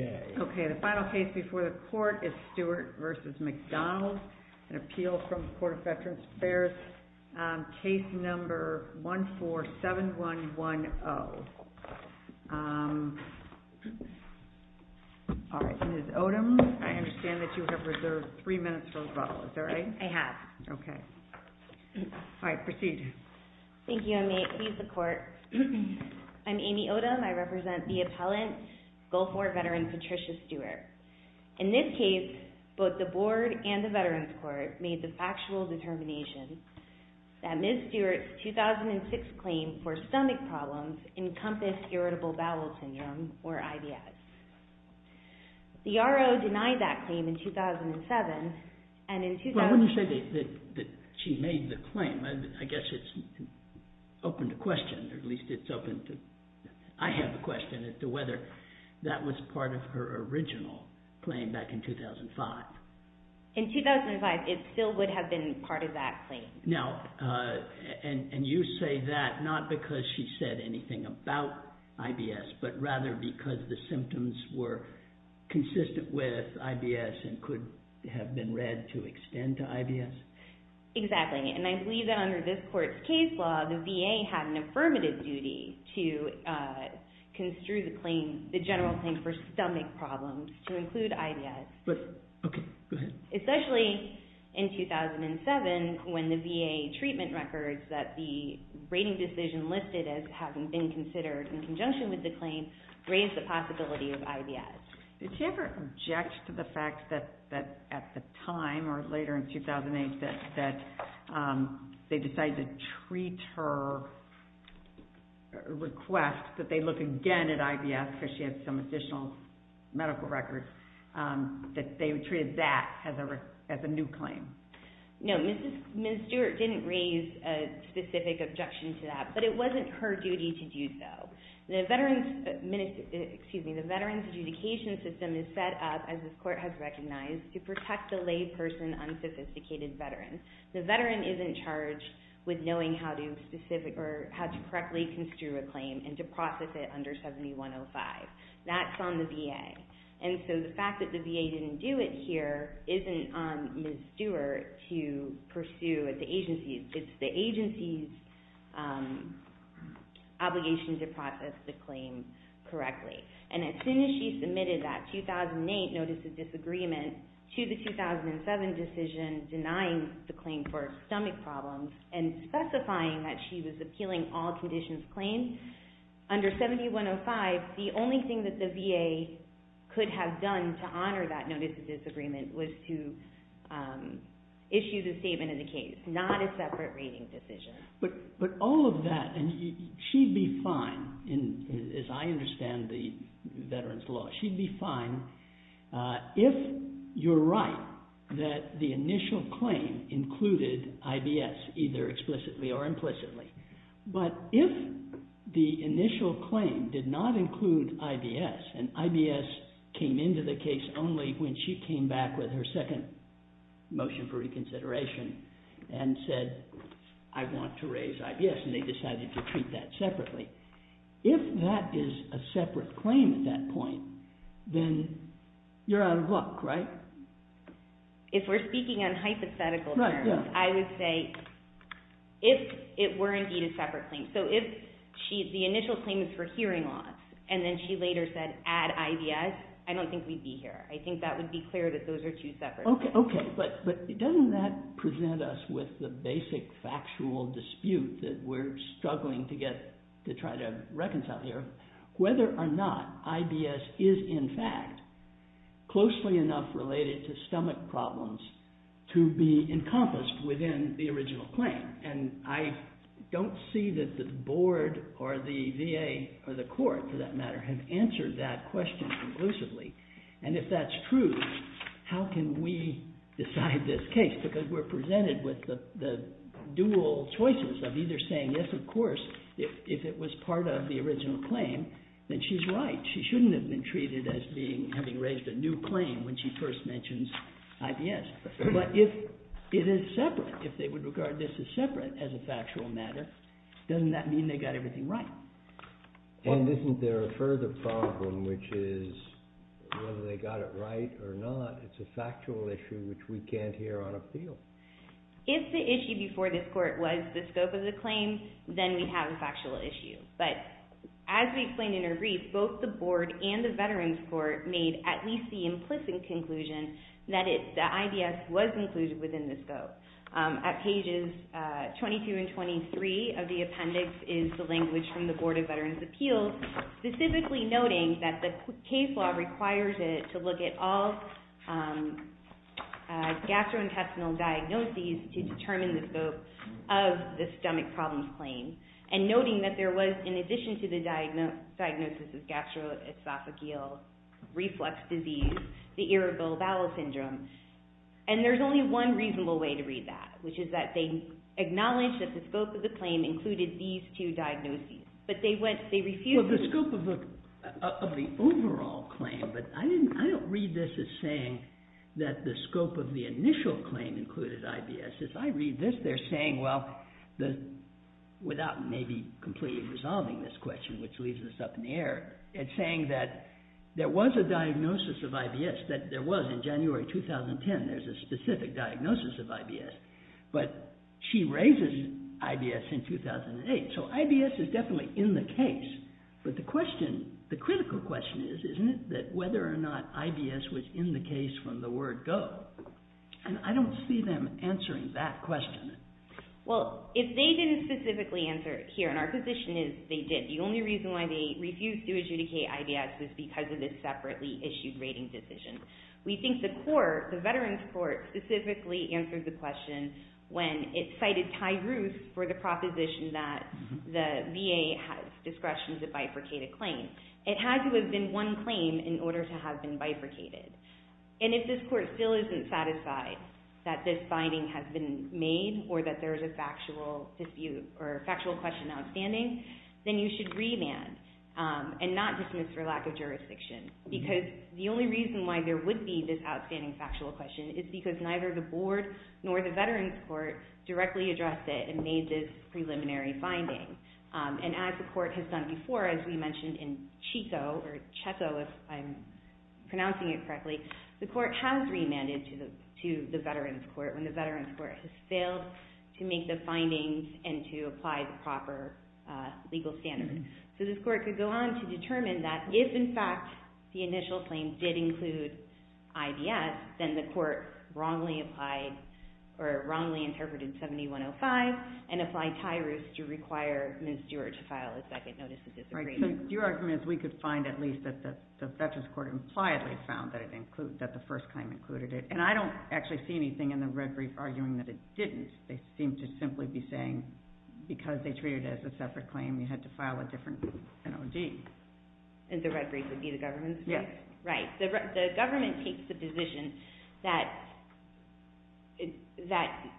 Okay, the final case before the court is Stewart v. McDonald, an appeal from the Court of Veterans Affairs. Case number 147110. All right. Ms. Odom, I understand that you have a motion. You have reserved three minutes for rebuttal. Is that right? I have. Okay. All right. Proceed. Thank you. I may please the court. I'm Amy Odom. I represent the appellant, Gulf War veteran Patricia Stewart. In this case, both the board and the veterans court made the factual determination that Ms. Stewart's 2006 claim for stomach problems encompassed irritable bowel syndrome, or IBS. The R.O. denied that claim in 2007, and in 2005... Well, when you say that she made the claim, I guess it's open to question, or at least it's open to... I have a question as to whether that was part of her original claim back in 2005. In 2005, it still would have been part of that claim. Now, and you say that not because she said anything about IBS, but rather because the symptoms were consistent with IBS and could have been read to extend to IBS? Exactly. And I believe that under this court's case law, the VA had an affirmative duty to construe the claim, the general claim for stomach problems to include IBS. Okay. Go ahead. Especially in 2007, when the VA treatment records that the rating decision listed as having been considered in conjunction with the claim raised the possibility of IBS. Did she ever object to the fact that at the time, or later in 2008, that they decided to treat her request, that they look again at IBS because she had some additional medical records, that they treated that as a new claim? No. Ms. Stewart didn't raise a specific objection to that, but it wasn't her duty to do so. The Veterans Adjudication System is set up, as this court has recognized, to protect the lay person unsophisticated veteran. The veteran isn't charged with knowing how to correctly construe a claim and to process it under 7105. That's on the VA. The fact that the VA didn't do it here isn't on Ms. Stewart to pursue at the agency. It's the agency's obligation to process the claim correctly. As soon as she submitted that 2008 notice of disagreement to the 2007 decision denying the claim for stomach problems and specifying that she was appealing all conditions claimed, under 7105, the only thing that the VA could have done to honor that notice of disagreement was to issue the statement of the case, not a separate rating decision. But all of that, and she'd be fine, as I understand the veteran's law, she'd be fine if you're right that the initial claim included IBS, either explicitly or implicitly. But if the initial claim did not include IBS, and IBS came into the case only when she came back with her second motion for reconsideration and said, I want to raise IBS, and they decided to treat that separately, if that is a separate claim at that point, then you're out of luck, right? If we're speaking on hypothetical terms, I would say, if it were indeed a separate claim, so if the initial claim is for hearing loss, and then she later said, add IBS, I don't think we'd be here. I think that would be clear that those are two separate claims. Okay, but doesn't that present us with the basic factual dispute that we're struggling to try to reconcile here, whether or not IBS is in fact closely enough related to stomach problems to be encompassed within the original claim? And I don't see that the board, or the VA, or the court, for that matter, have answered that question conclusively. And if that's true, how can we decide this case? Because we're presented with the dual choices of either saying, yes, of course, if it was part of the original claim, then she's right. She shouldn't have been treated as having raised a new claim when she first mentions IBS. But if it is separate, if they would regard this as separate as a factual matter, doesn't that mean they got everything right? And isn't there a further problem, which is, whether they got it right or not, it's a factual issue which we can't hear on appeal. If the issue before this court was the scope of the claim, then we have a factual issue. But as we explained in our brief, both the board and the Veterans Court made at least the implicit conclusion that the IBS was included within the scope. At pages 22 and 23 of the appendix is the language from the Board of Veterans' Appeals, specifically noting that the case law requires it to look at all gastrointestinal diagnoses to determine the scope of the stomach problems claim. And noting that there was, in addition to the diagnosis of gastroesophageal reflux disease, the irritable bowel syndrome. And there's only one reasonable way to read that, which is that they acknowledge that the scope of the claim included these two diagnoses. Well, the scope of the overall claim, but I don't read this as saying that the scope of the initial claim included IBS. If I read this, they're saying, well, without maybe completely resolving this question, which leaves us up in the air, it's saying that there was a diagnosis of IBS, that there was in January 2010, there's a specific diagnosis of IBS. But she raises IBS in 2008. So IBS is definitely in the case. But the question, the critical question is, isn't it, that whether or not IBS was in the case from the word go? And I don't see them answering that question. Well, if they didn't specifically answer it here, and our position is they did. The only reason why they refused to adjudicate IBS was because of this separately issued rating decision. We think the court, the Veterans Court, specifically answered the question when it cited Ty Ruth for the proposition that the VA has discretion to bifurcate a claim. It had to have been one claim in order to have been bifurcated. And if this court still isn't satisfied that this finding has been made, or that there is a factual question outstanding, then you should remand and not dismiss for lack of jurisdiction. Because the only reason why there would be this outstanding factual question is because neither the board nor the Veterans Court directly addressed it and made this preliminary finding. And as the court has done before, as we mentioned in Chico, or Cheto, if I'm pronouncing it correctly, the court has remanded to the Veterans Court when the Veterans Court has failed to make the findings and to apply the proper legal standard. So this court could go on to determine that if, in fact, the initial claim did include IDS, then the court wrongly applied, or wrongly interpreted 7105 and applied Ty Ruth to require Ms. Dewar to file a second notice of disagreement. Right. So your argument is we could find at least that the Veterans Court impliedly found that it included, that the first claim included it. And I don't actually see anything in the red brief arguing that it didn't. They seem to simply be saying because they treated it as a separate claim, you had to file a different NOD. And the red brief would be the government's? Yes. Right. The government takes the position that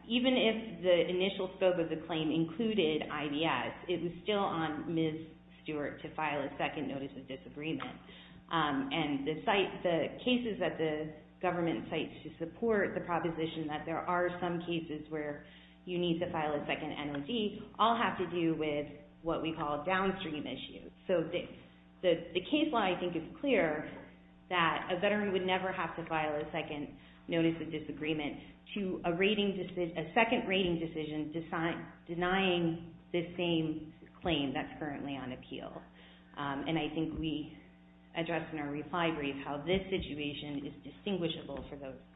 even if the initial scope of the claim included IDS, it was still on Ms. Stewart to file a second notice of disagreement. And the cases that the government cites to support the proposition that there are some cases where you need to file a second NOD all have to do with what we call downstream issues. So the case law, I think, is clear that a veteran would never have to file a second notice of disagreement to a second rating decision denying the same claim that's currently on appeal. And I think we addressed in our reply brief how this situation is distinguishable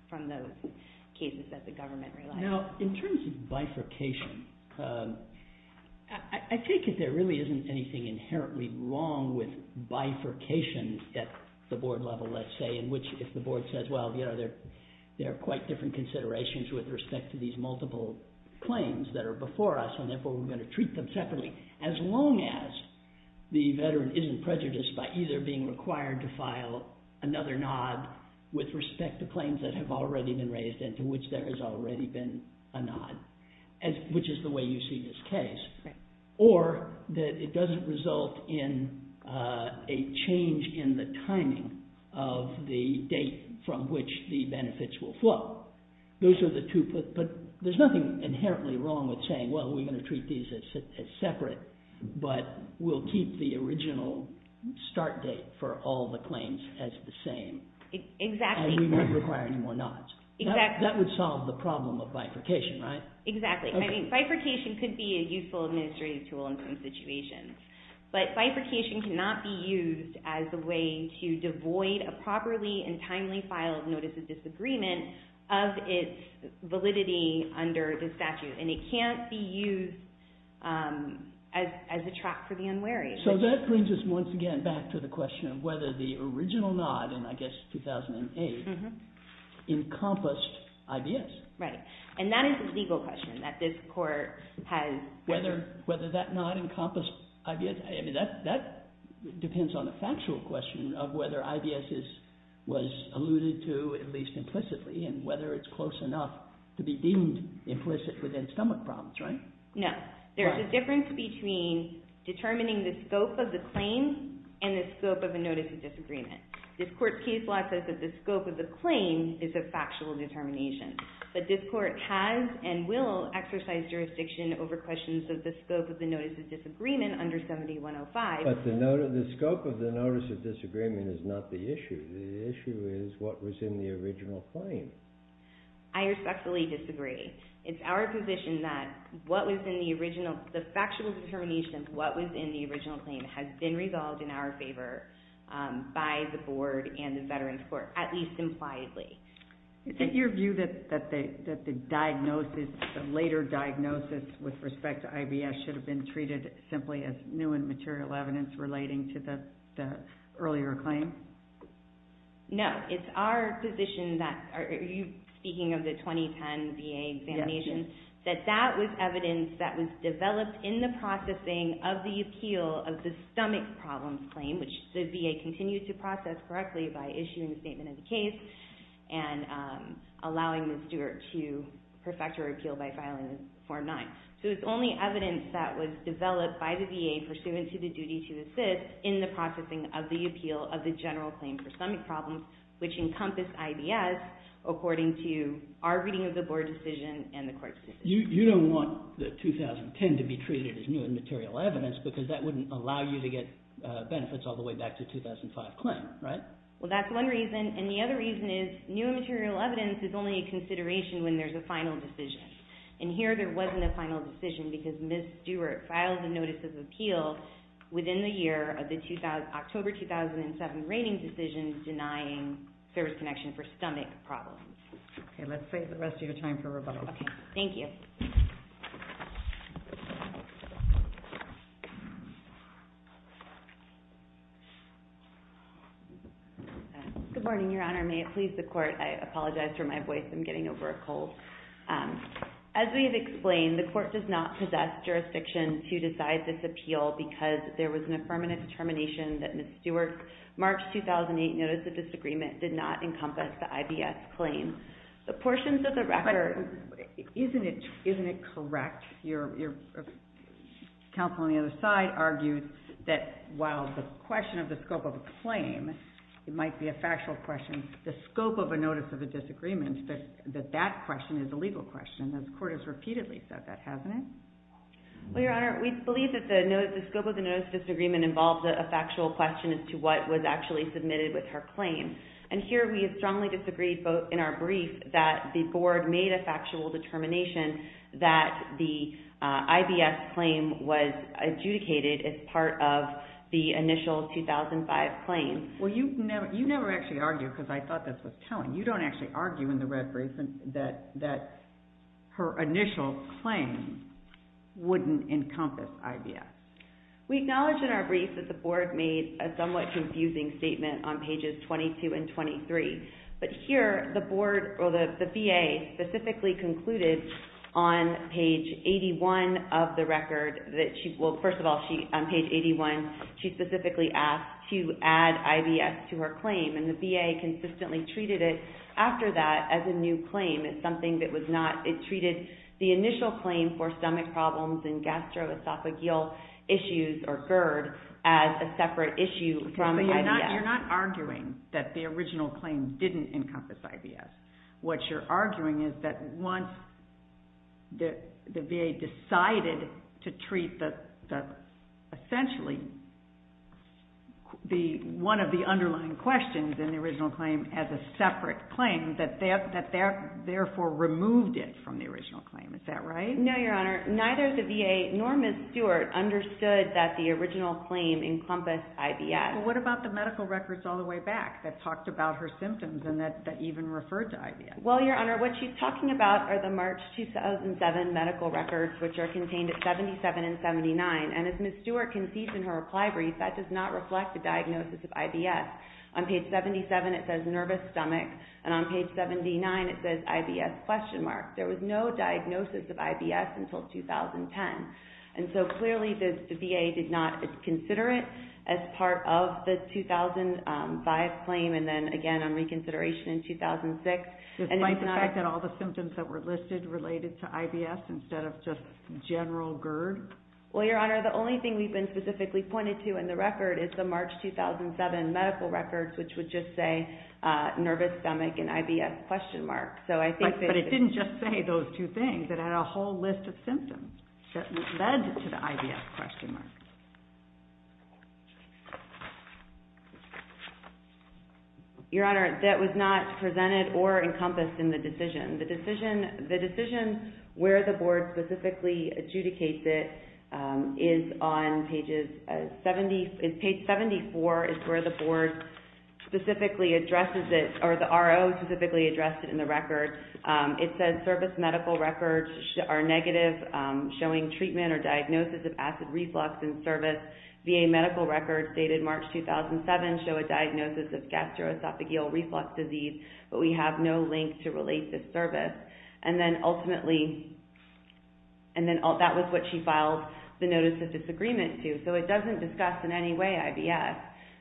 from those cases that the government relied on. Now, in terms of bifurcation, I take it there really isn't anything inherently wrong with bifurcation at the board level, let's say, in which if the board says, well, you know, there are quite different considerations with respect to these multiple claims that are before us, and therefore we're going to treat them separately, as long as the veteran isn't prejudiced by either being required to file another NOD with respect to claims that have already been a NOD, which is the way you see this case. Or that it doesn't result in a change in the timing of the date from which the benefits will flow. Those are the two, but there's nothing inherently wrong with saying, well, we're going to treat these as separate, but we'll keep the original start date for all the claims as the same. And we won't require any more NODs. That would solve the problem of bifurcation, right? Exactly. I mean, bifurcation could be a useful administrative tool in some situations, but bifurcation cannot be used as a way to devoid a properly and timely file of notice of disagreement of its validity under the statute, and it can't be used as a trap for the unwary. So that brings us once again back to the question of whether the original NOD, and I guess 2008, encompassed IBS. Right. And that is a legal question, that this court has... Whether that not encompassed IBS, I mean, that depends on the factual question of whether IBS was alluded to, at least implicitly, and whether it's close enough to be deemed implicit within stomach problems, right? No. There's a difference between determining the scope of the claim and the scope of a notice of disagreement. This court's case law says that the scope of the claim is a factual determination, but this court has and will exercise jurisdiction over questions of the scope of the notice of disagreement under 7105. But the scope of the notice of disagreement is not the issue. The issue is what was in the original claim. I respectfully disagree. It's our position that what was in the original, the factual determination of what was in the by the board and the Veterans Court, at least impliedly. Is it your view that the diagnosis, the later diagnosis with respect to IBS should have been treated simply as new and material evidence relating to the earlier claim? No. It's our position that... Are you speaking of the 2010 VA examination? Yes. That that was evidence that was developed in the processing of the appeal of the stomach problems claim, which the VA continued to process correctly by issuing the statement of the case and allowing the steward to perfect her appeal by filing Form 9. So it's only evidence that was developed by the VA pursuant to the duty to assist in the processing of the appeal of the general claim for stomach problems, which encompass IBS, according to our reading of the board decision and the court's decision. You don't want the 2010 to be treated as new and material evidence because that wouldn't allow you to get benefits all the way back to 2005 claim, right? Well, that's one reason. And the other reason is new and material evidence is only a consideration when there's a final decision. And here there wasn't a final decision because Ms. Stewart filed the notice of appeal within the year of the October 2007 rating decision denying service connection for stomach problems. Okay. Let's save the rest of your time for rebuttal. Okay. Thank you. Good morning, Your Honor. May it please the court. I apologize for my voice. I'm getting over a cold. As we have explained, the court does not possess jurisdiction to decide this appeal because there was an affirmative determination that Ms. Stewart's March 2008 notice of disagreement did not encompass the IBS claim. The portions of the record... Isn't it correct? Your counsel on the other side argued that while the question of the scope of the claim might be a factual question, the scope of a notice of a disagreement, that that question is a legal question. The court has repeatedly said that, hasn't it? Well, Your Honor, we believe that the scope of the notice of disagreement involves a factual question as to what was actually submitted with her claim. And here we strongly disagree in our brief that the board made a factual determination that the IBS claim was adjudicated as part of the initial 2005 claim. Well, you never actually argue because I thought that was telling. You don't actually argue in the red brief that her initial claim wouldn't encompass IBS. We acknowledge in our brief that the board made a somewhat confusing statement on pages 22 and 23. But here, the board, or the VA, specifically concluded on page 81 of the record that she... Well, first of all, on page 81, she specifically asked to add IBS to her claim. And the VA consistently treated it after that as a new claim. It's something that was not... It treated the initial claim for stomach problems and gastroesophageal issues, or GERD, as a separate issue from IBS. But you're not arguing that the original claim didn't encompass IBS. What you're arguing is that once the VA decided to treat essentially one of the underlying questions in the original claim as a separate claim, that they therefore removed it from the original claim. Is that right? No, Your Honor. Neither the VA nor Ms. Stewart understood that the original claim encompassed IBS. Well, what about the medical records all the way back that talked about her symptoms and that even referred to IBS? Well, Your Honor, what she's talking about are the March 2007 medical records, which are contained at 77 and 79. And as Ms. Stewart concedes in her reply brief, that does not reflect the diagnosis of IBS. On page 77, it says nervous stomach. And on page 79, it says IBS question mark. There was no diagnosis of IBS until 2010. And so clearly the VA did not consider it as part of the 2005 claim and then again on reconsideration in 2006. Despite the fact that all the symptoms that were listed related to IBS instead of just general GERD? Well, Your Honor, the only thing we've been specifically pointed to in the record is the March 2007 medical records, which would just say nervous stomach and IBS question mark. But it didn't just say those two things. It had a whole list of symptoms that led to the IBS question mark. Your Honor, that was not presented or encompassed in the decision. The decision where the board specifically adjudicates it is on page 74 is where the board specifically addresses it or the RO specifically addressed it in the record. It says service medical records are negative, showing treatment or diagnosis of acid reflux in service. VA medical records dated March 2007 show a diagnosis of gastroesophageal reflux disease. But we have no link to relate this service. And then ultimately, that was what she filed the notice of disagreement to. So it doesn't discuss in any way IBS.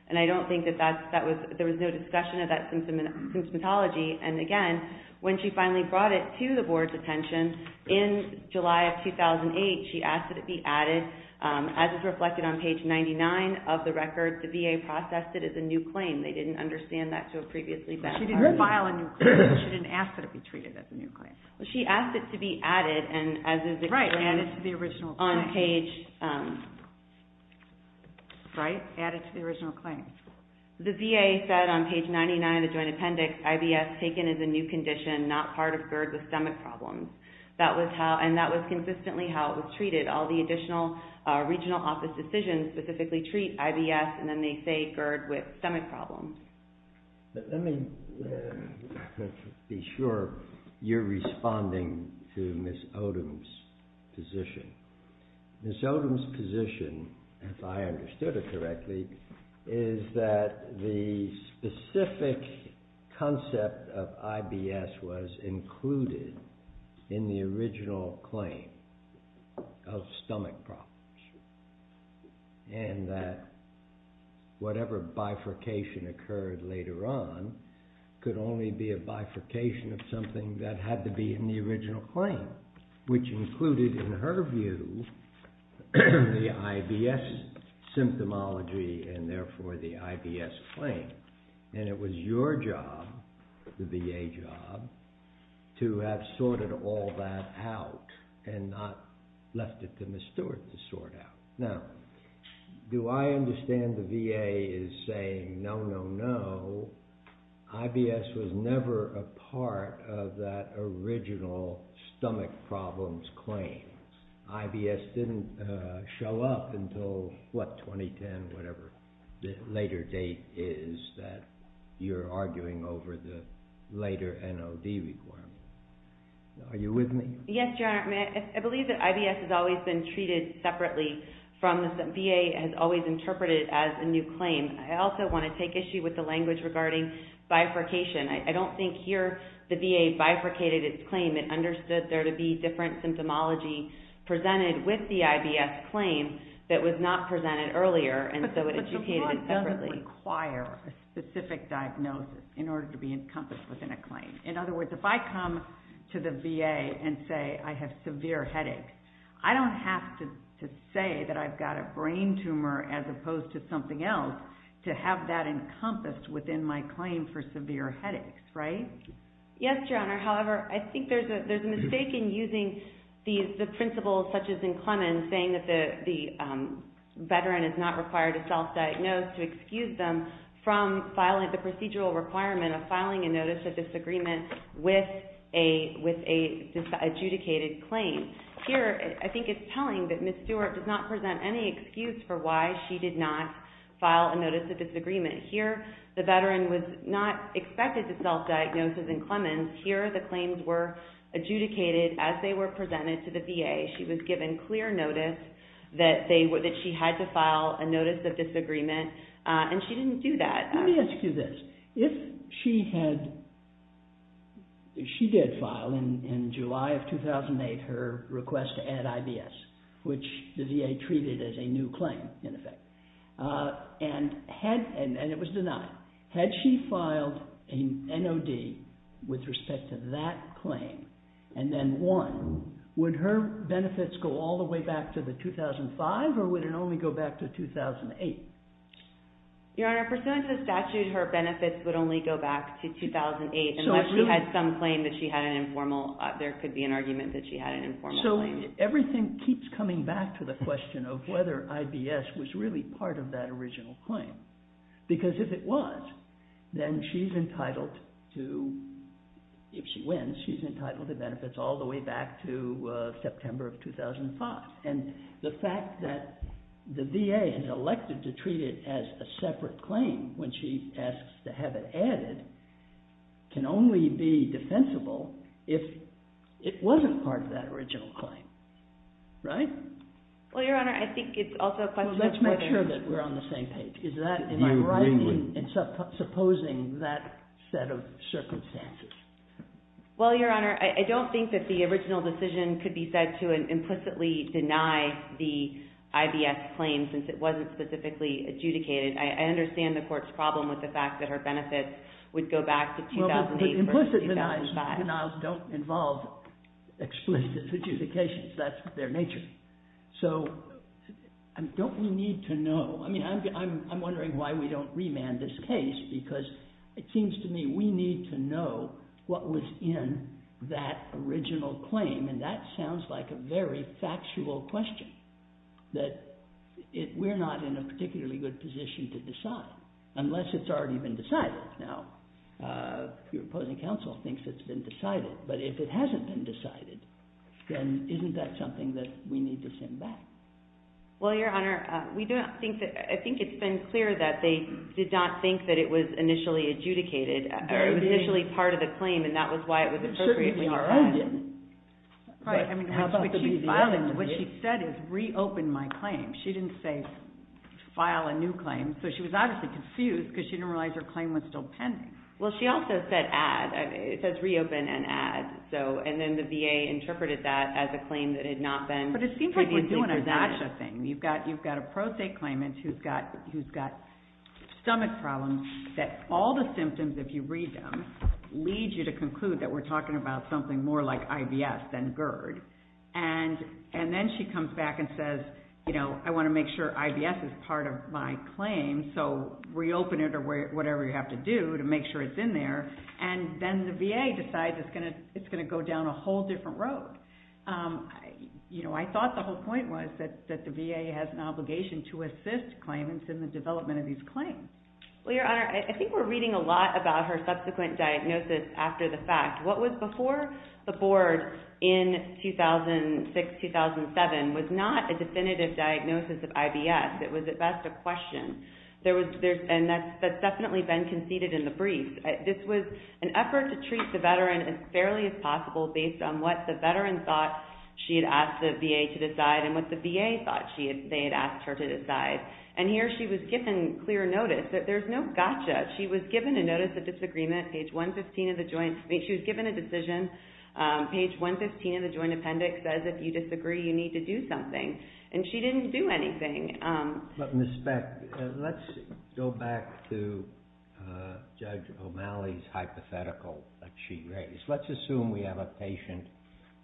And I don't think that there was no discussion of that symptomatology. And again, when she finally brought it to the board's attention, in July of 2008, she asked that it be added. As is reflected on page 99 of the record, the VA processed it as a new claim. They didn't understand that to a previously better time. She didn't file a new claim. She didn't ask that it be treated as a new claim. She asked it to be added. Right. Added to the original claim. On page... Right. Added to the original claim. The VA said on page 99 of the joint appendix, IBS taken as a new condition, not part of GERD with stomach problems. And that was consistently how it was treated. All the additional regional office decisions specifically treat IBS, and then they say GERD with stomach problems. Let me be sure you're responding to Ms. Odom's position. Ms. Odom's position, if I understood it correctly, is that the specific concept of IBS was included in the original claim of stomach problems. And that whatever bifurcation occurred later on could only be a bifurcation of something that had to be in the original claim, which included, in her view, the IBS symptomology and therefore the IBS claim. And it was your job, the VA job, to have sorted all that out and not left it to Ms. Stewart to sort out. Now, do I understand the VA is saying, no, no, no, IBS was never a part of that original stomach problems claim. IBS didn't show up until, what, 2010, whatever the later date is that you're arguing over the later NOD requirement. Are you with me? Yes, Your Honor. I believe that IBS has always been treated separately. VA has always interpreted it as a new claim. I also want to take issue with the language regarding bifurcation. I don't think here the VA bifurcated its claim. It understood there to be different symptomology presented with the IBS claim that was not presented earlier, and so it educated it separately. But the law doesn't require a specific diagnosis in order to be encompassed within a claim. In other words, if I come to the VA and say I have severe headache, I don't have to say that I've got a brain tumor as opposed to something else to have that encompassed within my claim for severe headaches, right? Yes, Your Honor. However, I think there's a mistake in using the principles such as in Clemens saying that the veteran is not required to self-diagnose to excuse them from filing the procedural requirement of filing a notice of disagreement with an adjudicated claim. Here, I think it's telling that Ms. Stewart does not present any excuse for why she did not file a notice of disagreement. Here, the veteran was not expected to self-diagnose as in Clemens. Here, the claims were adjudicated as they were presented to the VA. She was given clear notice that she had to file a notice of disagreement, and she didn't do that. Let me ask you this. If she did file in July of 2008 her request to add IBS, which the VA treated as a new claim, in effect, and it was denied, had she filed an NOD with respect to that claim and then won, would her benefits go all the way back to the 2005, or would it only go back to 2008? Your Honor, pursuant to the statute, her benefits would only go back to 2008 unless she had some claim that she had an informal. There could be an argument that she had an informal claim. So everything keeps coming back to the question of whether IBS was really part of that original claim, because if it was, then she's entitled to, if she wins, she's entitled to benefits all the way back to September of 2005. The fact that the VA has elected to treat it as a separate claim when she asks to have it added can only be defensible if it wasn't part of that original claim, right? Well, Your Honor, I think it's also a question of whether Well, let's make sure that we're on the same page. Do you agree with me? Is that in my writing in supposing that set of circumstances? Well, Your Honor, I don't think that the original decision could be said to implicitly deny the IBS claim since it wasn't specifically adjudicated. I understand the Court's problem with the fact that her benefits would go back to 2008 versus 2005. But the five denials don't involve explicit adjudications. That's their nature. So don't we need to know? I mean, I'm wondering why we don't remand this case because it seems to me we need to know what was in that original claim, and that sounds like a very factual question that we're not in a particularly good position to decide unless it's already been decided. Now, your opposing counsel thinks it's been decided, but if it hasn't been decided, then isn't that something that we need to send back? Well, Your Honor, I think it's been clear that they did not think that it was initially adjudicated or it was initially part of the claim, and that was why it was appropriately notified. Certainly, R.O. didn't. What she said is reopen my claim. She didn't say file a new claim. So she was obviously confused because she didn't realize her claim was still pending. Well, she also said add. It says reopen and add, and then the VA interpreted that as a claim that had not been... But it seems like we're doing a DASHA thing. You've got a pro se claimant who's got stomach problems that all the symptoms, if you read them, lead you to conclude that we're talking about something more like IBS than GERD, and then she comes back and says, you know, I want to make sure IBS is part of my claim, so reopen it or whatever you have to do to make sure it's in there, and then the VA decides it's going to go down a whole different road. You know, I thought the whole point was that the VA has an obligation to assist claimants in the development of these claims. Well, Your Honor, I think we're reading a lot about her subsequent diagnosis after the fact. What was before the board in 2006, 2007 was not a definitive diagnosis of IBS. It was at best a question, and that's definitely been conceded in the brief. This was an effort to treat the veteran as fairly as possible based on what the veteran thought she had asked the VA to decide and what the VA thought they had asked her to decide, and here she was given clear notice. There's no gotcha. She was given a notice of disagreement. She was given a decision. Page 115 of the joint appendix says if you disagree, you need to do something, and she didn't do anything. But Ms. Beck, let's go back to Judge O'Malley's hypothetical that she raised. Let's assume we have a patient,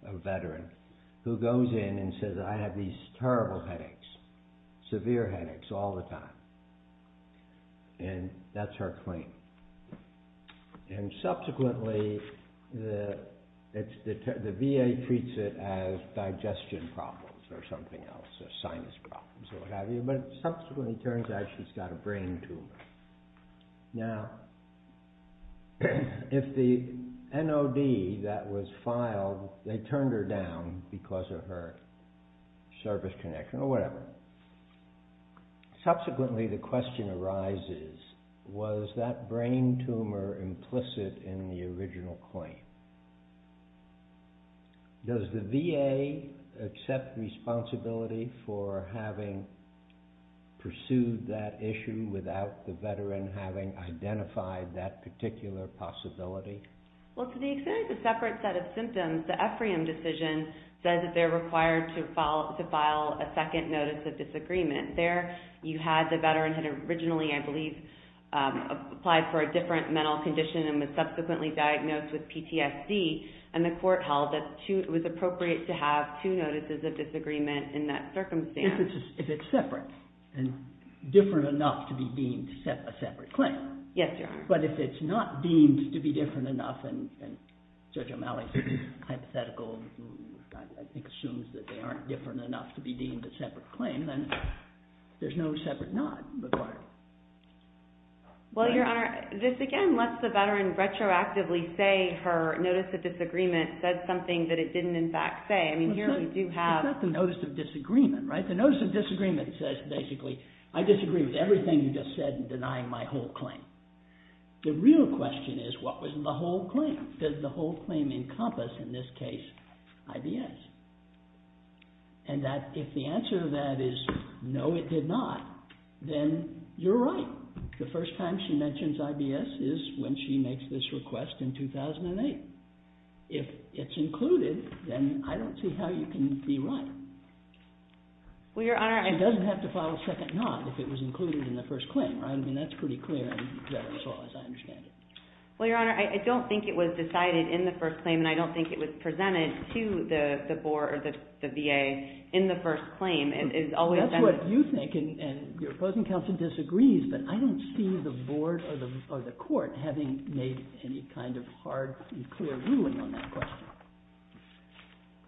a veteran, who goes in and says, I have these terrible headaches, severe headaches all the time, and that's her claim, and subsequently the VA treats it as digestion problems or something else, or sinus problems or what have you, but it subsequently turns out she's got a brain tumor. Now, if the NOD that was filed, they turned her down because of her service connection or whatever, subsequently the question arises, was that brain tumor implicit in the original claim? Does the VA accept responsibility for having pursued that issue without the veteran having identified that particular possibility? Well, to the extent it's a separate set of symptoms, the Ephraim decision says that they're required to file a second notice of disagreement. There, you had the veteran had originally, I believe, applied for a different mental condition and was subsequently diagnosed with PTSD, and the court held that it was appropriate to have two notices of disagreement in that circumstance. If it's separate and different enough to be deemed a separate claim. Yes, Your Honor. But if it's not deemed to be different enough, and Judge O'Malley's hypothetical, I think, assumes that they aren't different enough to be deemed a separate claim, then there's no separate NOD required. Well, Your Honor, this, again, unless the veteran retroactively say her notice of disagreement said something that it didn't, in fact, say. I mean, here we do have... It's not the notice of disagreement, right? The notice of disagreement says, basically, I disagree with everything you just said in denying my whole claim. The real question is, what was the whole claim? Did the whole claim encompass, in this case, IBS? And if the answer to that is, no, it did not, then you're right. The first time she mentions IBS is when she makes this request in 2008. If it's included, then I don't see how you can be right. Well, Your Honor, I... She doesn't have to file a second NOD if it was included in the first claim, right? I mean, that's pretty clear in Veterans Law, as I understand it. Well, Your Honor, I don't think it was decided in the first claim, and I don't think it was presented to the VA in the first claim. That's what you think, and your opposing counsel disagrees, but I don't see the board or the court having made any kind of hard and clear ruling on that question.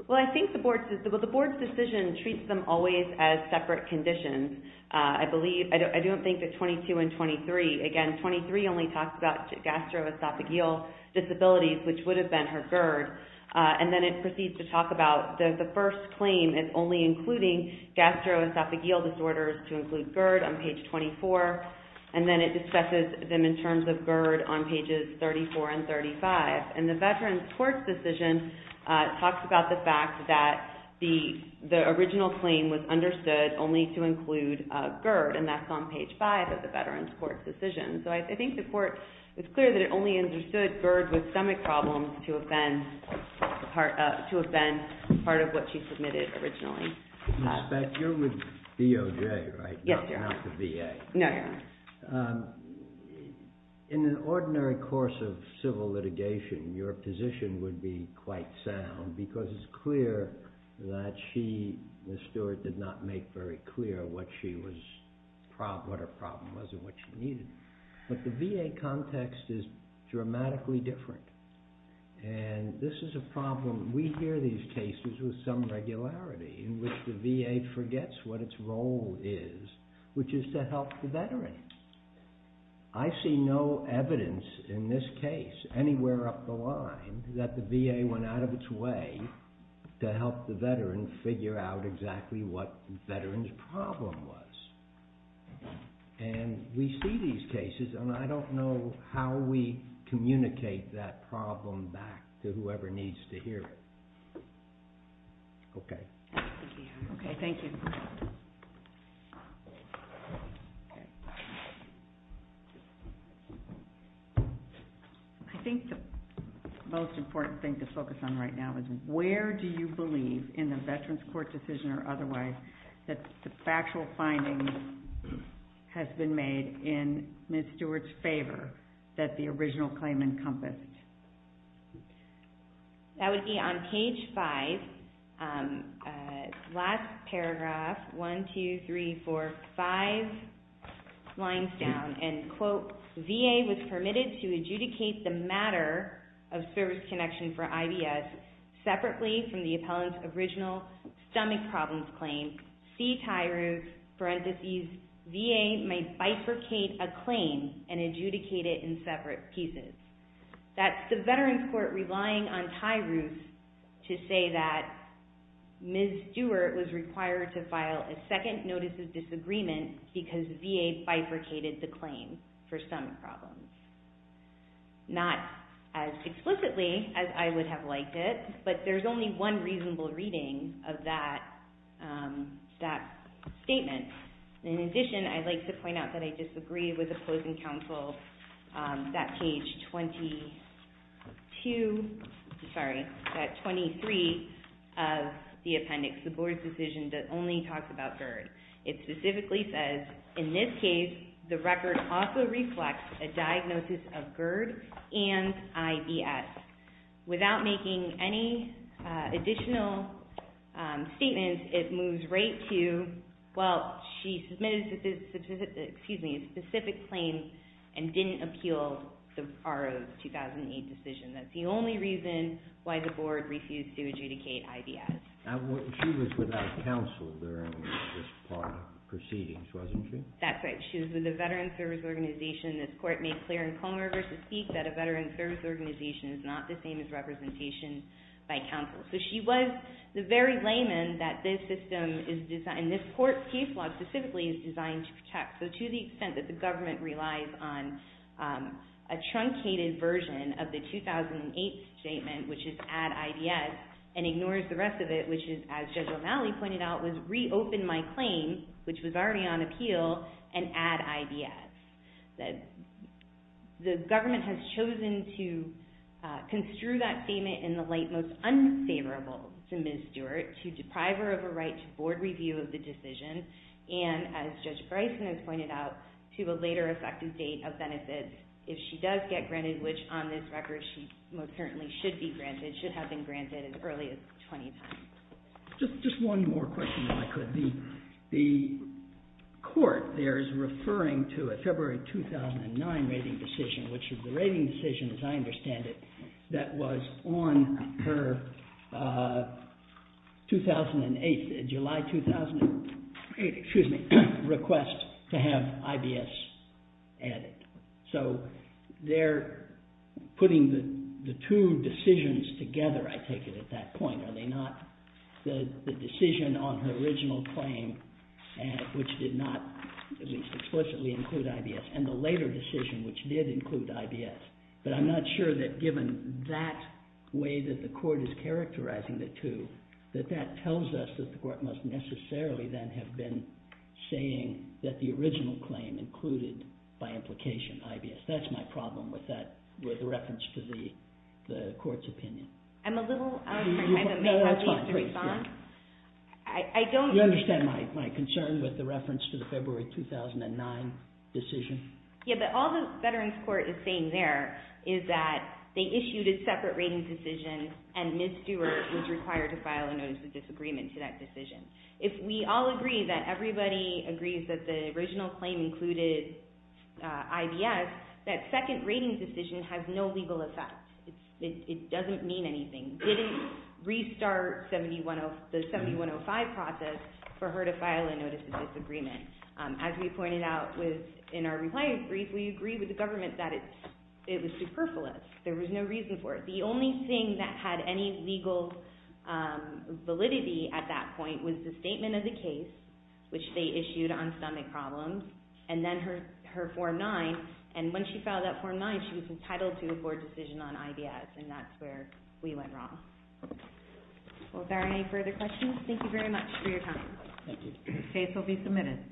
Well, I think the board's decision treats them always as separate conditions. I believe... I don't think that 22 and 23... Again, 23 only talks about gastroesophageal disabilities, which would have been her GERD, and then it proceeds to talk about the first claim as only including gastroesophageal disorders to include GERD on page 24, and then it discusses them in terms of GERD on pages 34 and 35. And the Veterans Court's decision talks about the fact that the original claim was understood only to include GERD, and that's on page 5 of the Veterans Court's decision. So I think the court... It's clear that it only understood GERD with stomach problems to have been part of what she submitted originally. Ms. Speck, you're with DOJ, right? Yes, sir. Not the VA. No, no. In an ordinary course of civil litigation, your position would be quite sound because it's clear that she, Ms. Stewart, did not make very clear what she was... what her problem was and what she needed. But the VA context is dramatically different, and this is a problem... We hear these cases with some regularity in which the VA forgets what its role is, which is to help the veteran. I see no evidence in this case anywhere up the line that the VA went out of its way to help the veteran figure out exactly what the veteran's problem was. And we see these cases, and I don't know how we communicate that problem back to whoever needs to hear it. Okay. Okay, thank you. I think the most important thing to focus on right now is where do you believe in the Veterans Court decision or otherwise that the factual findings have been made in Ms. Stewart's favor that the original claim encompassed? That would be on page 5, last paragraph, 1, 2, 3, 4, 5 lines down, and, quote, VA was permitted to adjudicate the matter of service connection for IBS separately from the appellant's original stomach problems claim. See tie roof, parentheses, VA may bifurcate a claim and adjudicate it in separate pieces. That's the Veterans Court relying on tie roof to say that Ms. Stewart was required to file a second notice of disagreement because VA bifurcated the claim for stomach problems. Not as explicitly as I would have liked it, but there's only one reasonable reading of that statement. In addition, I'd like to point out that I disagree with the closing counsel that page 22, sorry, that 23 of the appendix, the board's decision that only talks about GERD. It specifically says, in this case, the record also reflects a diagnosis of GERD and IBS. Without making any additional statements, it moves right to, well, she submitted a specific claim and didn't appeal the 2008 decision. That's the only reason why the board refused to adjudicate IBS. She was without counsel during this part of the proceedings, wasn't she? That's right. She was with a veteran service organization. This court made clear in Comer v. Peake that a veteran service organization is not the same as representation by counsel. So she was the very layman that this system is designed, and this court's case law specifically is designed to protect. So to the extent that the government relies on a truncated version of the 2008 statement, which is add IBS, and ignores the rest of it, which is, as Judge O'Malley pointed out, was reopen my claim, which was already on appeal, and add IBS. The government has chosen to construe that statement in the light most unfavorable to Ms. Stewart to deprive her of her right to board review of the decision, and, as Judge Bryson has pointed out, to a later effective date of benefits if she does get granted, which on this record she most certainly should be granted, should have been granted as early as 20 times. Just one more question, if I could. The court there is referring to a February 2009 rating decision, which is the rating decision, as I understand it, that was on her July 2008 request to have IBS added. So they're putting the two decisions together, I take it, at that point, are they not? The decision on her original claim, which did not at least explicitly include IBS, and the later decision, which did include IBS. But I'm not sure that given that way that the court is characterizing the two, that that tells us that the court must necessarily then have been saying that the original claim included, by implication, IBS. That's my problem with the reference to the court's opinion. I'm a little out of time. I may have to respond. You understand my concern with the reference to the February 2009 decision? Yeah, but all the veterans court is saying there is that they issued a separate rating decision, and Ms. Stewart was required to file a Notice of Disagreement to that decision. If we all agree that everybody agrees that the original claim included IBS, that second rating decision has no legal effect. It doesn't mean anything. Didn't restart the 7105 process for her to file a Notice of Disagreement. As we pointed out in our reply brief, we agree with the government that it was superfluous. There was no reason for it. The only thing that had any legal validity at that point was the statement of the case, which they issued on stomach problems, and then her Form 9. And when she filed that Form 9, she was entitled to a court decision on IBS, and that's where we went wrong. Well, if there are any further questions, thank you very much for your time. Thank you. The case will be submitted.